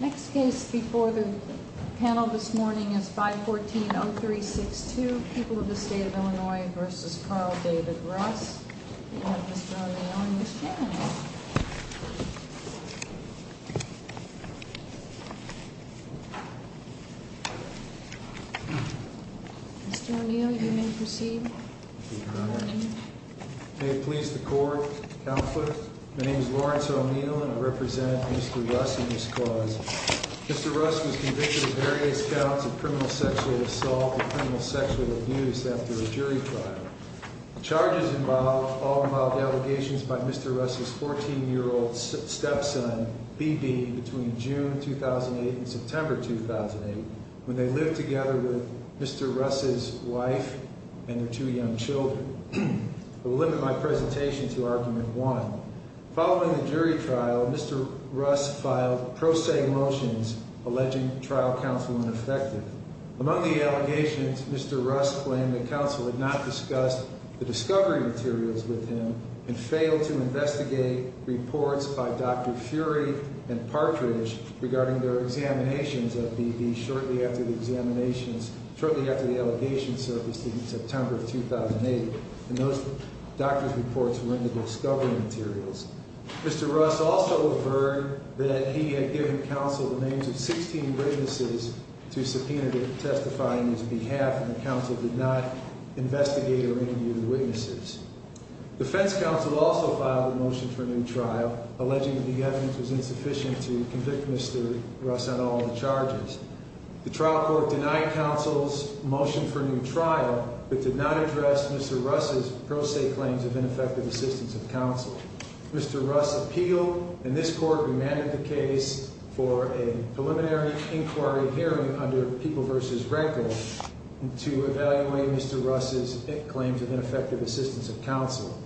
Next case before the panel this morning is 514-0362, People of the State of Illinois v. Carl David Russ. We have Mr. O'Neill and Ms. Shannon. Mr. O'Neill, you may proceed. Thank you, Your Honor. My name is Lawrence O'Neill and I represent Mr. Russ in this cause. Mr. Russ was convicted of various counts of criminal sexual assault and criminal sexual abuse after a jury trial. The charges all involve allegations by Mr. Russ' 14-year-old stepson, B.B., between June 2008 and September 2008, when they lived together with Mr. Russ' wife and their two young children. I will limit my presentation to argument one. Following the jury trial, Mr. Russ filed pro se motions alleging trial counsel ineffective. Among the allegations, Mr. Russ claimed that counsel had not discussed the discovery materials with him and failed to investigate reports by Dr. Fury and Partridge regarding their examinations of B.B. shortly after the allegations surfaced in September 2008. Those doctor's reports were in the discovery materials. Mr. Russ also affirmed that he had given counsel the names of 16 witnesses to subpoena to testify on his behalf and that counsel did not investigate or interview the witnesses. Defense counsel also filed a motion for a new trial, alleging that the evidence was insufficient to convict Mr. Russ on all the charges. The trial court denied counsel's motion for a new trial, but did not address Mr. Russ' pro se claims of ineffective assistance of counsel. Mr. Russ appealed, and this court remanded the case for a preliminary inquiry hearing under People v. Record to evaluate Mr. Russ' claims of ineffective assistance of counsel.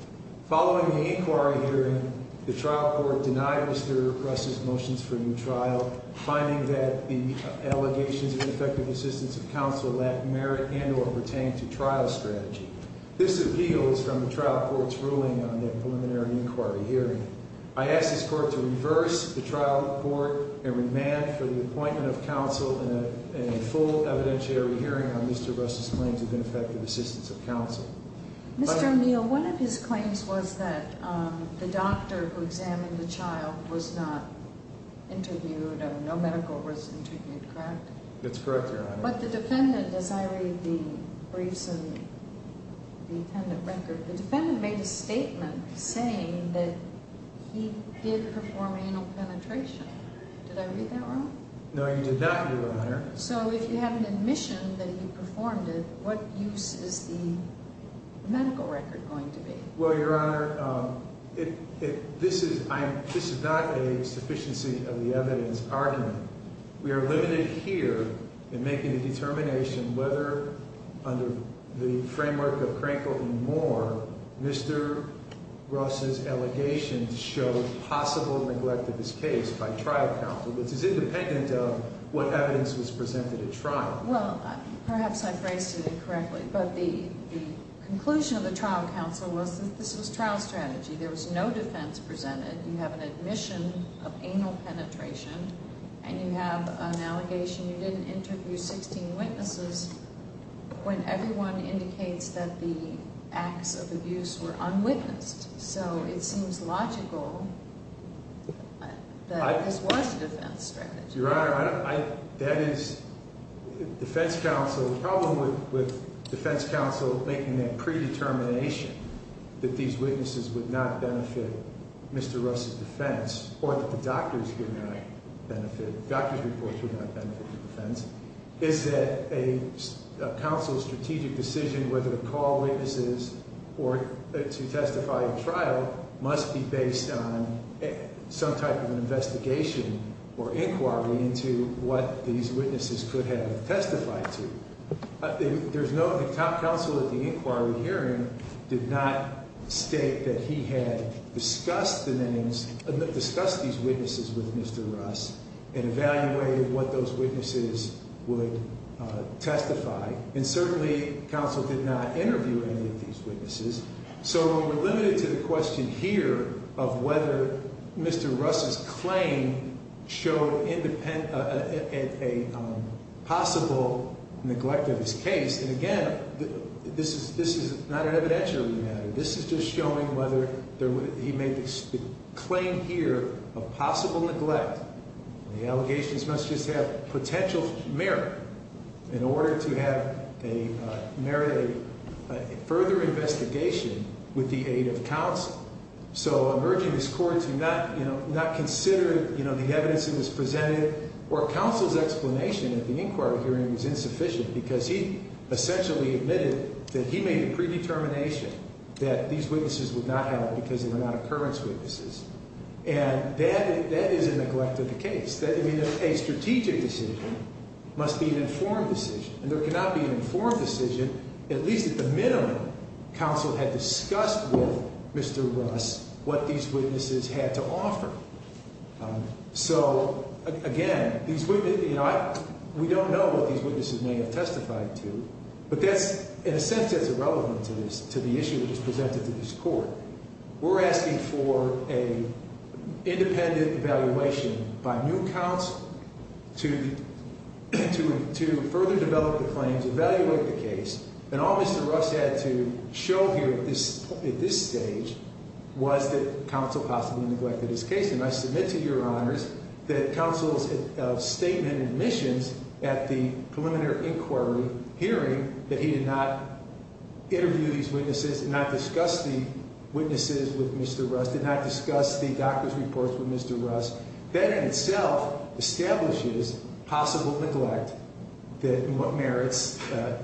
Following the inquiry hearing, the trial court denied Mr. Russ' motions for a new trial, finding that the allegations of ineffective assistance of counsel lack merit and or pertain to trial strategy. This appeals from the trial court's ruling on the preliminary inquiry hearing. I ask this court to reverse the trial report and remand for the appointment of counsel in a full evidentiary hearing on Mr. Russ' claims of ineffective assistance of counsel. Mr. O'Neill, one of his claims was that the doctor who examined the child was not interviewed or no medical was interviewed, correct? That's correct, Your Honor. But the defendant, as I read the briefs and the record, the defendant made a statement saying that he did perform anal penetration. Did I read that wrong? No, you did not, Your Honor. So if you have an admission that he performed it, what use is the medical record going to be? Well, Your Honor, this is not a sufficiency of the evidence argument. We are limited here in making a determination whether, under the framework of Crankle v. Moore, Mr. Russ' allegations show possible neglect of his case by trial counsel, which is independent of what evidence was presented at trial. Well, perhaps I phrased it incorrectly, but the conclusion of the trial counsel was that this was trial strategy. There was no defense presented. You have an admission of anal penetration, and you have an allegation you didn't interview 16 witnesses when everyone indicates that the acts of abuse were unwitnessed. So it seems logical that this was a defense strategy. Your Honor, that is defense counsel. The problem with defense counsel making that predetermination that these witnesses would not benefit Mr. Russ' defense or that the doctor's reports would not benefit the defense is that a counsel's strategic decision, whether to call witnesses or to testify at trial, must be based on some type of investigation or inquiry into what these witnesses could have testified to. The top counsel at the inquiry hearing did not state that he had discussed these witnesses with Mr. Russ and evaluated what those witnesses would testify. And certainly, counsel did not interview any of these witnesses. So we're limited to the question here of whether Mr. Russ' claim showed a possible neglect of his case. And again, this is not an evidentiary matter. This is just showing whether he made the claim here of possible neglect. The allegations must just have potential merit in order to have a further investigation with the aid of counsel. So I'm urging this Court to not consider the evidence that was presented or counsel's explanation at the inquiry hearing was insufficient because he essentially admitted that he made a predetermination that these witnesses would not have because they were not occurrence witnesses. And that is a neglect of the case. A strategic decision must be an informed decision. And there cannot be an informed decision, at least at the minimum, counsel had discussed with Mr. Russ what these witnesses had to offer. So again, we don't know what these witnesses may have testified to, but that's in a sense irrelevant to the issue that was presented to this Court. We're asking for an independent evaluation by new counsel to further develop the claims, evaluate the case. And all Mr. Russ had to show here at this stage was that counsel possibly neglected his case. And I submit to your honors that counsel's statement and admissions at the preliminary inquiry hearing that he did not interview these witnesses, did not discuss the witnesses with Mr. Russ, did not discuss the doctor's reports with Mr. Russ, that in itself establishes possible neglect in what merits an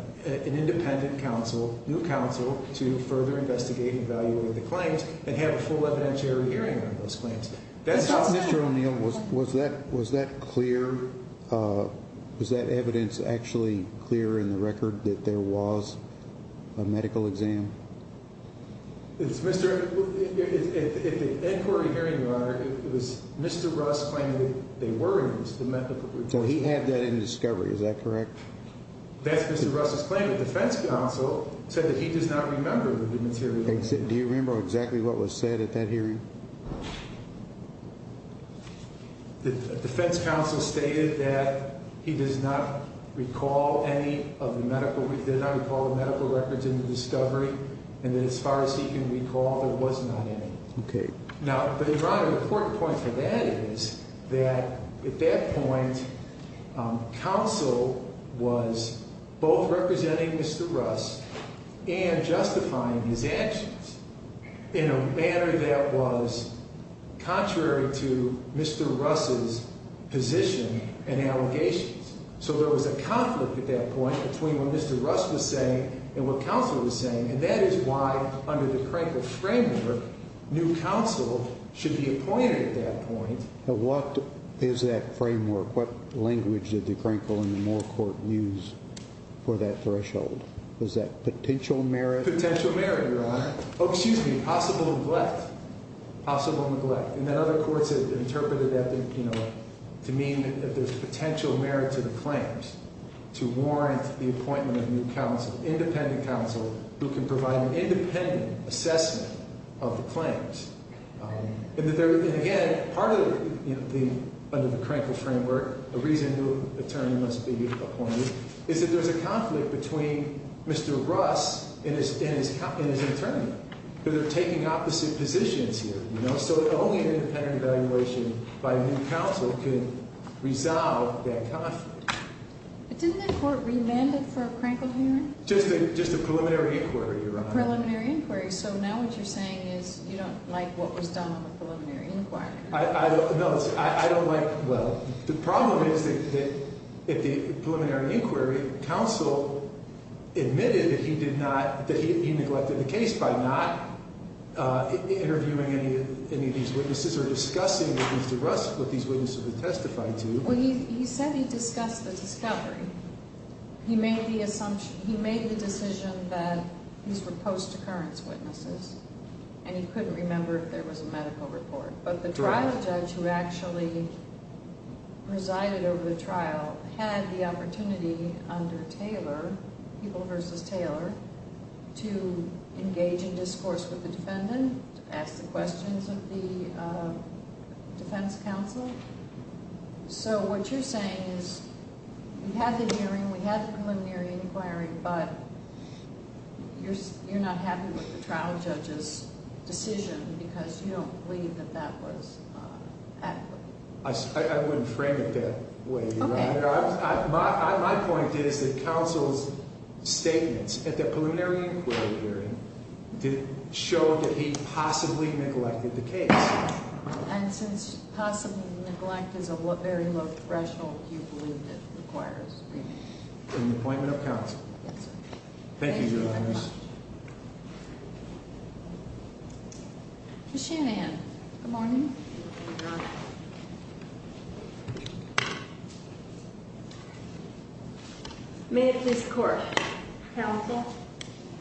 independent counsel, new counsel, to further investigate and evaluate the claims and have a full evidentiary hearing on those claims. So, Mr. O'Neill, was that clear? Was that evidence actually clear in the record that there was a medical exam? At the inquiry hearing, your honor, it was Mr. Russ claiming that there were medical reports. So he had that in discovery, is that correct? That's Mr. Russ's claim. The defense counsel said that he does not remember the material. Do you remember exactly what was said at that hearing? The defense counsel stated that he does not recall any of the medical records in the discovery and that as far as he can recall, there was not any. Okay. Now, your honor, the important point for that is that at that point, counsel was both representing Mr. Russ and justifying his actions in a manner that was contrary to Mr. Russ's position and allegations. So there was a conflict at that point between what Mr. Russ was saying and what counsel was saying, and that is why under the Krenkel framework, new counsel should be appointed at that point. Now, what is that framework? What language did the Krenkel and the Moore court use for that threshold? Was that potential merit? Potential merit, your honor. Oh, excuse me, possible neglect. Possible neglect. And then other courts have interpreted that to mean that there's potential merit to the claims to warrant the appointment of new counsel, independent counsel, who can provide an independent assessment of the claims. And again, under the Krenkel framework, the reason new attorney must be appointed is that there's a conflict between Mr. Russ and his attorney. They're taking opposite positions here, you know, so only an independent evaluation by new counsel could resolve that conflict. But didn't that court remand it for a Krenkel hearing? Just a preliminary inquiry, your honor. Preliminary inquiry. So now what you're saying is you don't like what was done on the preliminary inquiry. No, I don't like it. Well, the problem is that at the preliminary inquiry, counsel admitted that he neglected the case by not interviewing any of these witnesses or discussing with Mr. Russ what these witnesses would testify to. Well, he said he discussed the discovery. He made the assumption, he made the decision that these were post-occurrence witnesses, and he couldn't remember if there was a medical report. But the trial judge who actually resided over the trial had the opportunity under Taylor, People v. Taylor, to engage in discourse with the defendant, to ask the questions of the defense counsel. So what you're saying is we have the hearing, we have the preliminary inquiry, but you're not happy with the trial judge's decision because you don't believe that that was adequate. I wouldn't frame it that way, your honor. My point is that counsel's statements at the preliminary inquiry hearing did show that he possibly neglected the case. And since possible neglect is a very low threshold, do you believe it requires a hearing? An appointment of counsel. Yes, sir. Thank you, your honor. Ms. Shanahan. Good morning. May it please the court. Counsel,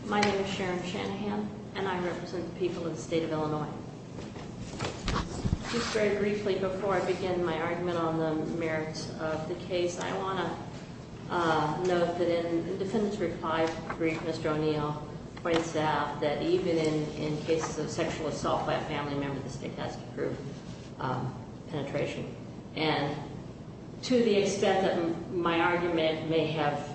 my name is Sharon Shanahan, and I represent the people of the state of Illinois. Just very briefly before I begin my argument on the merits of the case, I want to note that in the defendant's reply brief, Mr. O'Neill points out that even in cases of sexual assault by a family member, the state has to approve penetration. And to the extent that my argument may have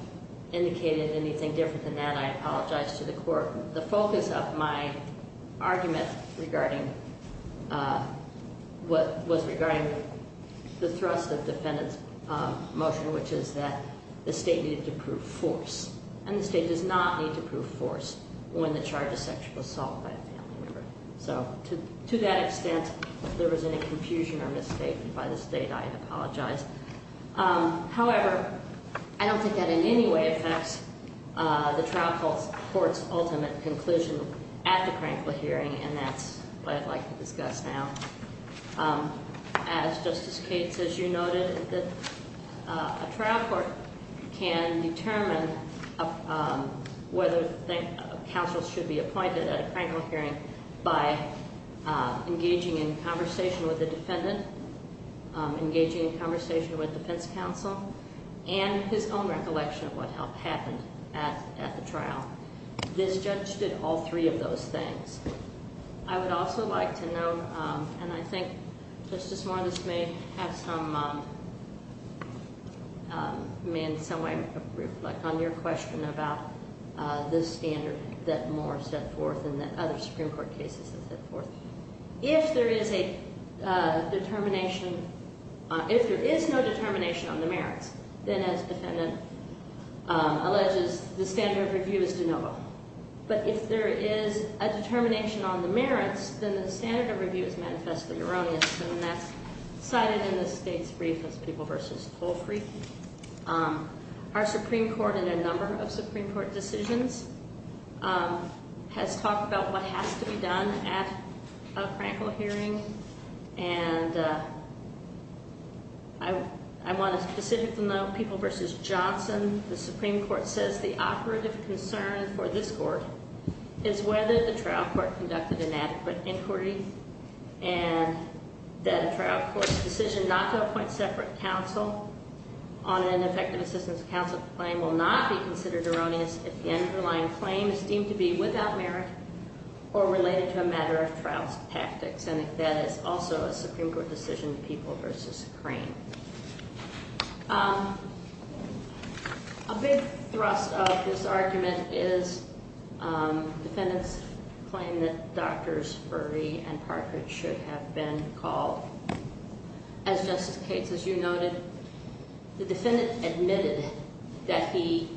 indicated anything different than that, I apologize to the court. The focus of my argument was regarding the thrust of the defendant's motion, which is that the state needed to prove force. And the state does not need to prove force when the charge of sexual assault by a family member. So to that extent, if there was any confusion or misstatement by the state, I apologize. However, I don't think that in any way affects the trial case. The trial court's ultimate conclusion at the Crankville hearing, and that's what I'd like to discuss now. As Justice Cates, as you noted, a trial court can determine whether counsel should be appointed at a Crankville hearing by engaging in conversation with the defendant, engaging in conversation with defense counsel, and his own recollection of what happened at the trial. This judge did all three of those things. I would also like to note, and I think Justice Morris may have some, may in some way reflect on your question about this standard that Moore set forth and that other Supreme Court cases have set forth. If there is a determination, if there is no determination on the merits, then as the defendant alleges, the standard of review is de novo. But if there is a determination on the merits, then the standard of review is manifestly erroneous. And that's cited in the state's brief as People v. Tolfrey. Our Supreme Court in a number of Supreme Court decisions has talked about what has to be done at a Crankville hearing. And I want to specifically note People v. Johnson. The Supreme Court says the operative concern for this court is whether the trial court conducted an adequate inquiry and that a trial court's decision not to appoint separate counsel on an ineffective assistance counsel claim will not be considered erroneous if the underlying claim is deemed to be without merit or related to a matter of trial's tactics, and if that is also a Supreme Court decision, People v. Crank. A big thrust of this argument is defendants' claim that Drs. Furry and Parker should have been called. As Justice Cates, as you noted, the defendant admitted that he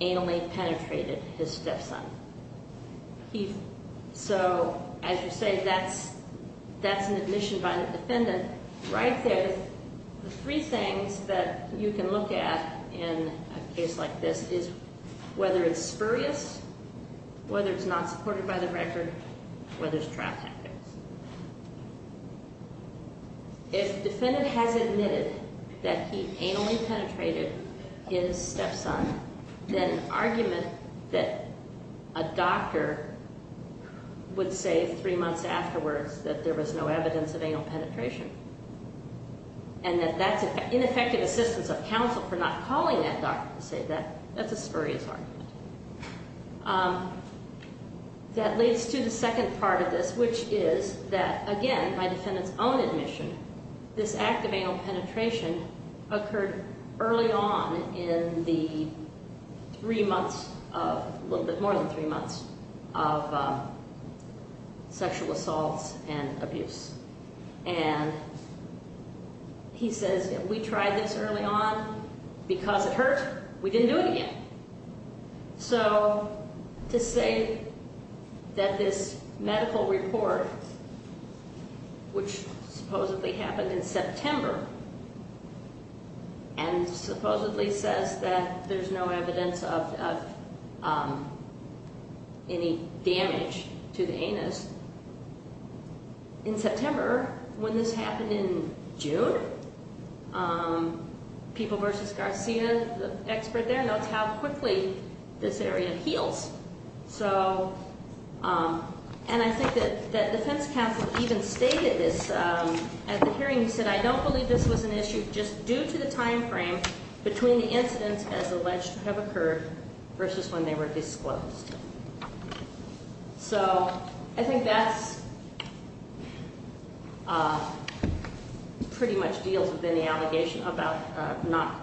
anally penetrated his stepson. So as you say, that's an admission by the defendant right there. The three things that you can look at in a case like this is whether it's spurious, whether it's not supported by the record, whether it's trial tactics. If the defendant has admitted that he anally penetrated his stepson, then an argument that a doctor would say three months afterwards that there was no evidence of anal penetration and that that's ineffective assistance of counsel for not calling that doctor to say that, that's a spurious argument. That leads to the second part of this, which is that, again, by defendant's own admission, this act of anal penetration occurred early on in the three months of, a little bit more than three months, of sexual assaults and abuse. And he says, if we tried this early on because it hurt, we didn't do it again. So to say that this medical report, which supposedly happened in September, and supposedly says that there's no evidence of any damage to the anus. In September, when this happened in June, people versus Garcia, the expert there, knows how quickly this area heals. And I think that defense counsel even stated this at the hearing. He said, I don't believe this was an issue just due to the time frame between the incidents as alleged to have occurred versus when they were disclosed. So I think that pretty much deals with any allegation about not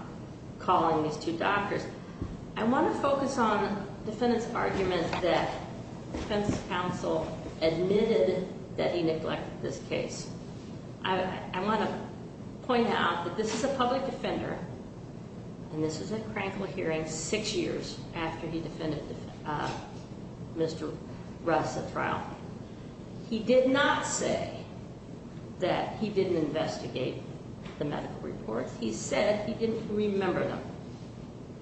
calling these two doctors. I want to focus on defendant's argument that defense counsel admitted that he neglected this case. I want to point out that this is a public defender, and this is at Crankville hearing six years after he defended Mr. Russ at trial. He did not say that he didn't investigate the medical report. He said he didn't remember them.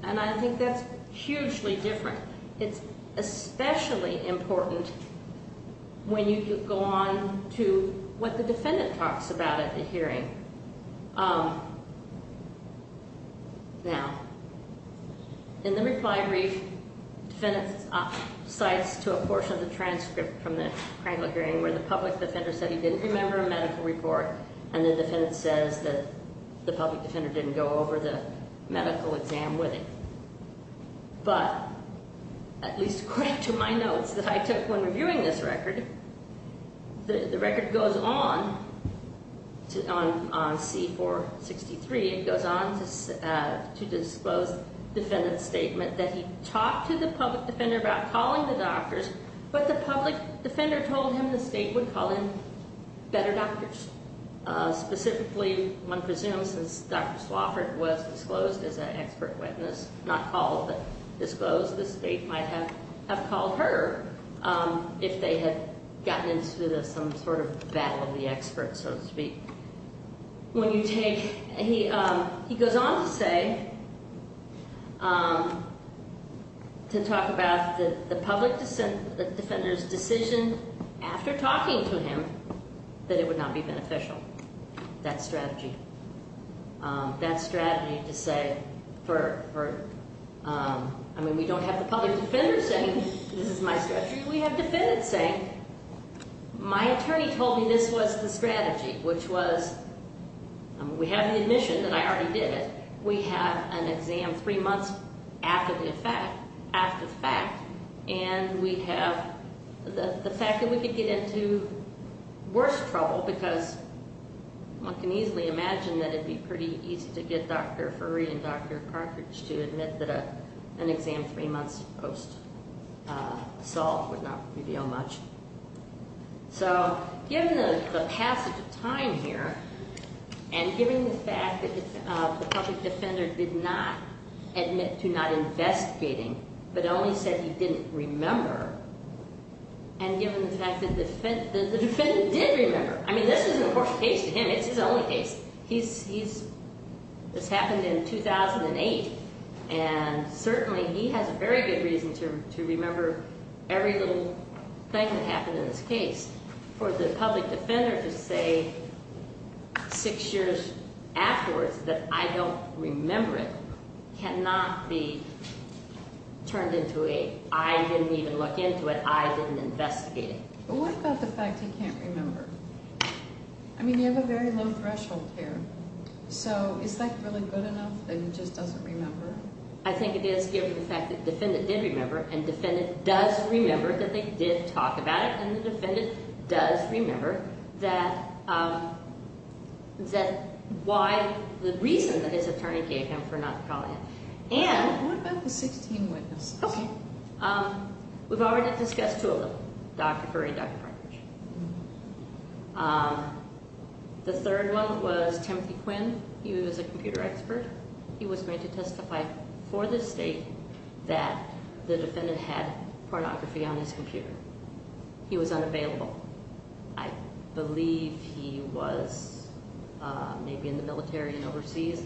And I think that's hugely different. It's especially important when you go on to what the defendant talks about at the hearing. Now, in the reply brief, defendant cites to a portion of the transcript from the Crankville hearing where the public defender said he didn't remember a medical report, and the defendant says that the public defender didn't go over the medical exam with him. But at least according to my notes that I took when reviewing this record, the record goes on on C-463. It goes on to disclose defendant's statement that he talked to the public defender about calling the doctors, but the public defender told him the state would call in better doctors. Specifically, one presumes since Dr. Swofford was disclosed as an expert witness, not called but disclosed, the state might have called her if they had gotten into some sort of battle of the experts, so to speak. He goes on to say, to talk about the public defender's decision after talking to him that it would not be beneficial, that strategy. That strategy to say, I mean, we don't have the public defender saying this is my strategy. We have defendants saying, my attorney told me this was the strategy, which was we have the admission that I already did it. We have an exam three months after the fact, and we have the fact that we could get into worse trouble because one can easily imagine that it would be pretty easy to get Dr. Furry and Dr. Cartridge to admit that an exam three months post assault would not reveal much. So given the passage of time here, and given the fact that the public defender did not admit to not investigating, but only said he didn't remember, and given the fact that the defendant did remember, I mean, this is an important case to him. It's his only case. This happened in 2008, and certainly he has a very good reason to remember every little thing that happened in this case. For the public defender to say six years afterwards that I don't remember it cannot be turned into a I didn't even look into it, I didn't investigate it. But what about the fact he can't remember? I mean, you have a very low threshold here. So is that really good enough that he just doesn't remember? I think it is given the fact that the defendant did remember, and the defendant does remember that they did talk about it, and the defendant does remember that why the reason that his attorney gave him for not calling it. What about the 16 witnesses? Okay. We've already discussed two of them, Dr. Curry and Dr. Partridge. The third one was Timothy Quinn. He was a computer expert. He was made to testify for the state that the defendant had pornography on his computer. He was unavailable. I believe he was maybe in the military and overseas.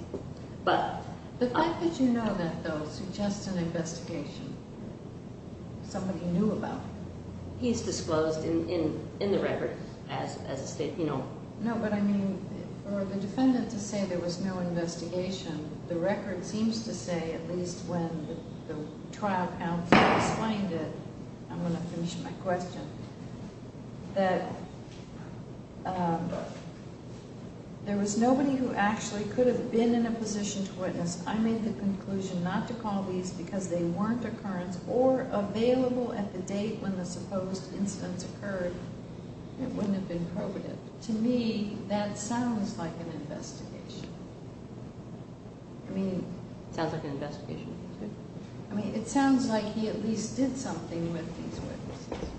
The fact that you know that, though, suggests an investigation. Somebody knew about it. He's disclosed in the record as a state, you know. No, but I mean, for the defendant to say there was no investigation, the record seems to say, at least when the trial counsel explained it, I'm going to finish my question, that there was nobody who actually could have been in a position to witness. I made the conclusion not to call these because they weren't occurrence or available at the date when the supposed incidents occurred. It wouldn't have been probative. To me, that sounds like an investigation. I mean, it sounds like he at least did something with these witnesses.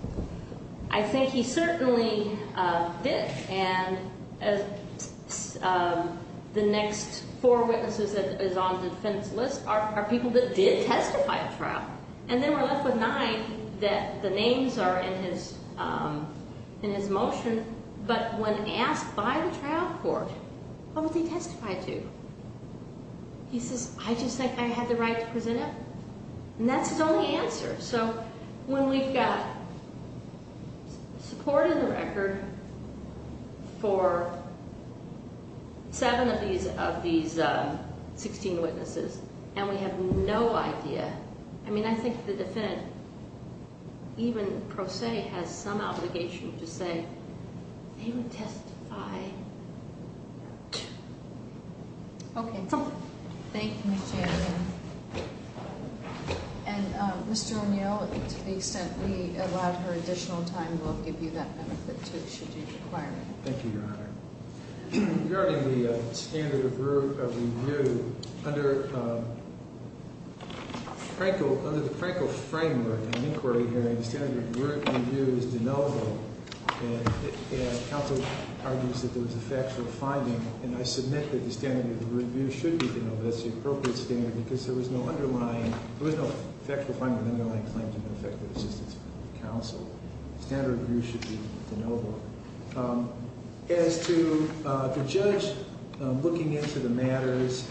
I think he certainly did. And the next four witnesses that is on the defendant's list are people that did testify at trial. And then we're left with nine that the names are in his motion. But when asked by the trial court, what would they testify to? He says, I just think I had the right to present it. And that's his only answer. So when we've got support in the record for seven of these 16 witnesses and we have no idea, I mean, I think the defendant, even pro se, has some obligation to say, they would testify to. Okay. Thank you, Mr. Anderson. And Mr. O'Neill, to the extent we allow her additional time, we'll give you that benefit too, should you require it. Thank you, Your Honor. Regarding the standard of review, under the Franco framework in an inquiry hearing, the standard of review is deniable. And counsel argues that there was a factual finding. And I submit that the standard of review should be deniable. That's the appropriate standard, because there was no underlying, there was no factual finding underlying claims of ineffective assistance from counsel. The standard of review should be deniable. As to the judge looking into the matters,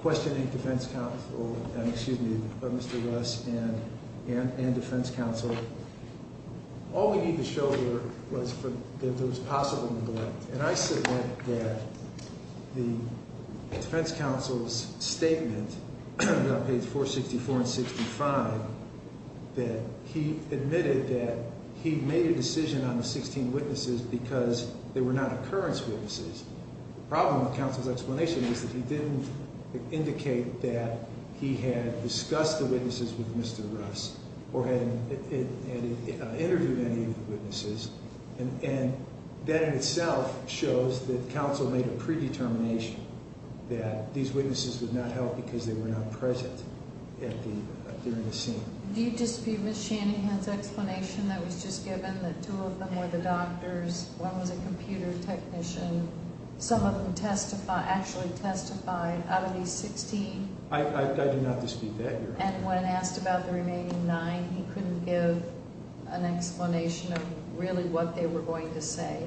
questioning defense counsel, excuse me, Mr. Russ and defense counsel, all we need to show here was that there was possible neglect. And I submit that the defense counsel's statement on page 464 and 65, that he admitted that he made a decision on the 16 witnesses because they were not occurrence witnesses. The problem with counsel's explanation is that he didn't indicate that he had discussed the witnesses with Mr. Russ And that in itself shows that counsel made a predetermination that these witnesses would not help because they were not present during the scene. Do you dispute Ms. Shanahan's explanation that was just given, that two of them were the doctors, one was a computer technician, some of them actually testified out of these 16? I do not dispute that, Your Honor. And when asked about the remaining nine, he couldn't give an explanation of really what they were going to say?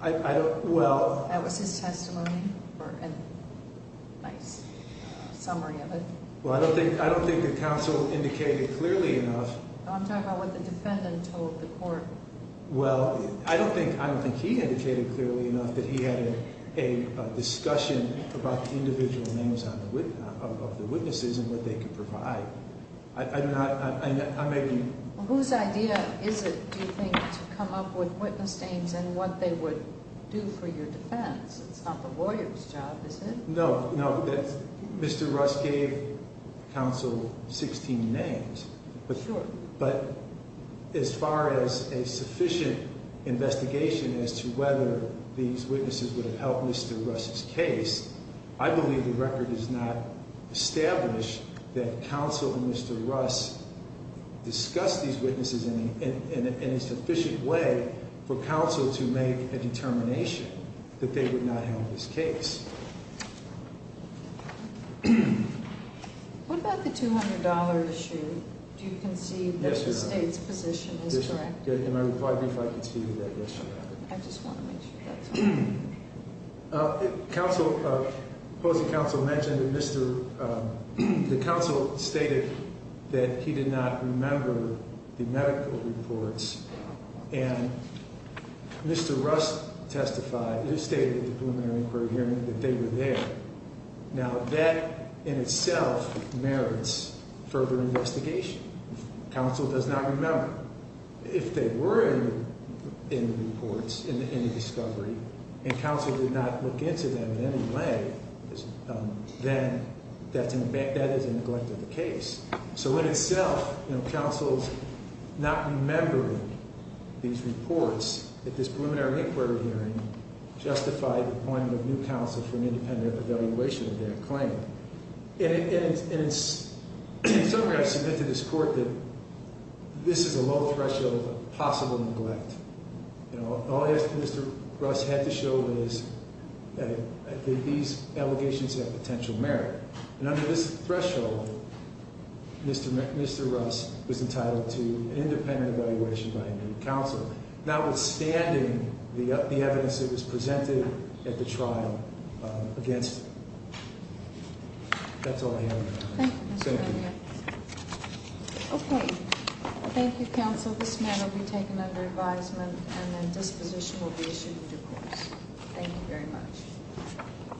I don't, well... That was his testimony or a nice summary of it? Well, I don't think the counsel indicated clearly enough... I'm talking about what the defendant told the court. Well, I don't think he indicated clearly enough that he had a discussion about the individual names of the witnesses and what they could provide. I'm making... Whose idea is it, do you think, to come up with witness names and what they would do for your defense? It's not the lawyer's job, is it? No, no, Mr. Russ gave counsel 16 names. But as far as a sufficient investigation as to whether these witnesses would have helped Mr. Russ's case, I believe the record does not establish that counsel and Mr. Russ discussed these witnesses in a sufficient way for counsel to make a determination that they would not help his case. What about the $200 issue? Do you concede that the state's position is correct? Yes, Your Honor. Am I required, if I can speak to that? I just want to make sure that's correct. Counsel, opposing counsel mentioned that the counsel stated that he did not remember the medical reports, and Mr. Russ testified, he stated at the preliminary inquiry hearing, that they were there. Now, that in itself merits further investigation. Counsel does not remember. If they were in the reports, in the discovery, and counsel did not look into them in any way, then that is a neglect of the case. So in itself, counsel's not remembering these reports at this preliminary inquiry hearing justified the appointment of new counsel for an independent evaluation of their claim. And in summary, I submit to this Court that this is a low threshold of possible neglect. All Mr. Russ had to show was that these allegations have potential merit. And under this threshold, Mr. Russ was entitled to an independent evaluation by a new counsel, notwithstanding the evidence that was presented at the trial against him. That's all I have. Thank you. Senator. Okay. Thank you, counsel. This matter will be taken under advisement, and a disposition will be issued in due course. Thank you very much.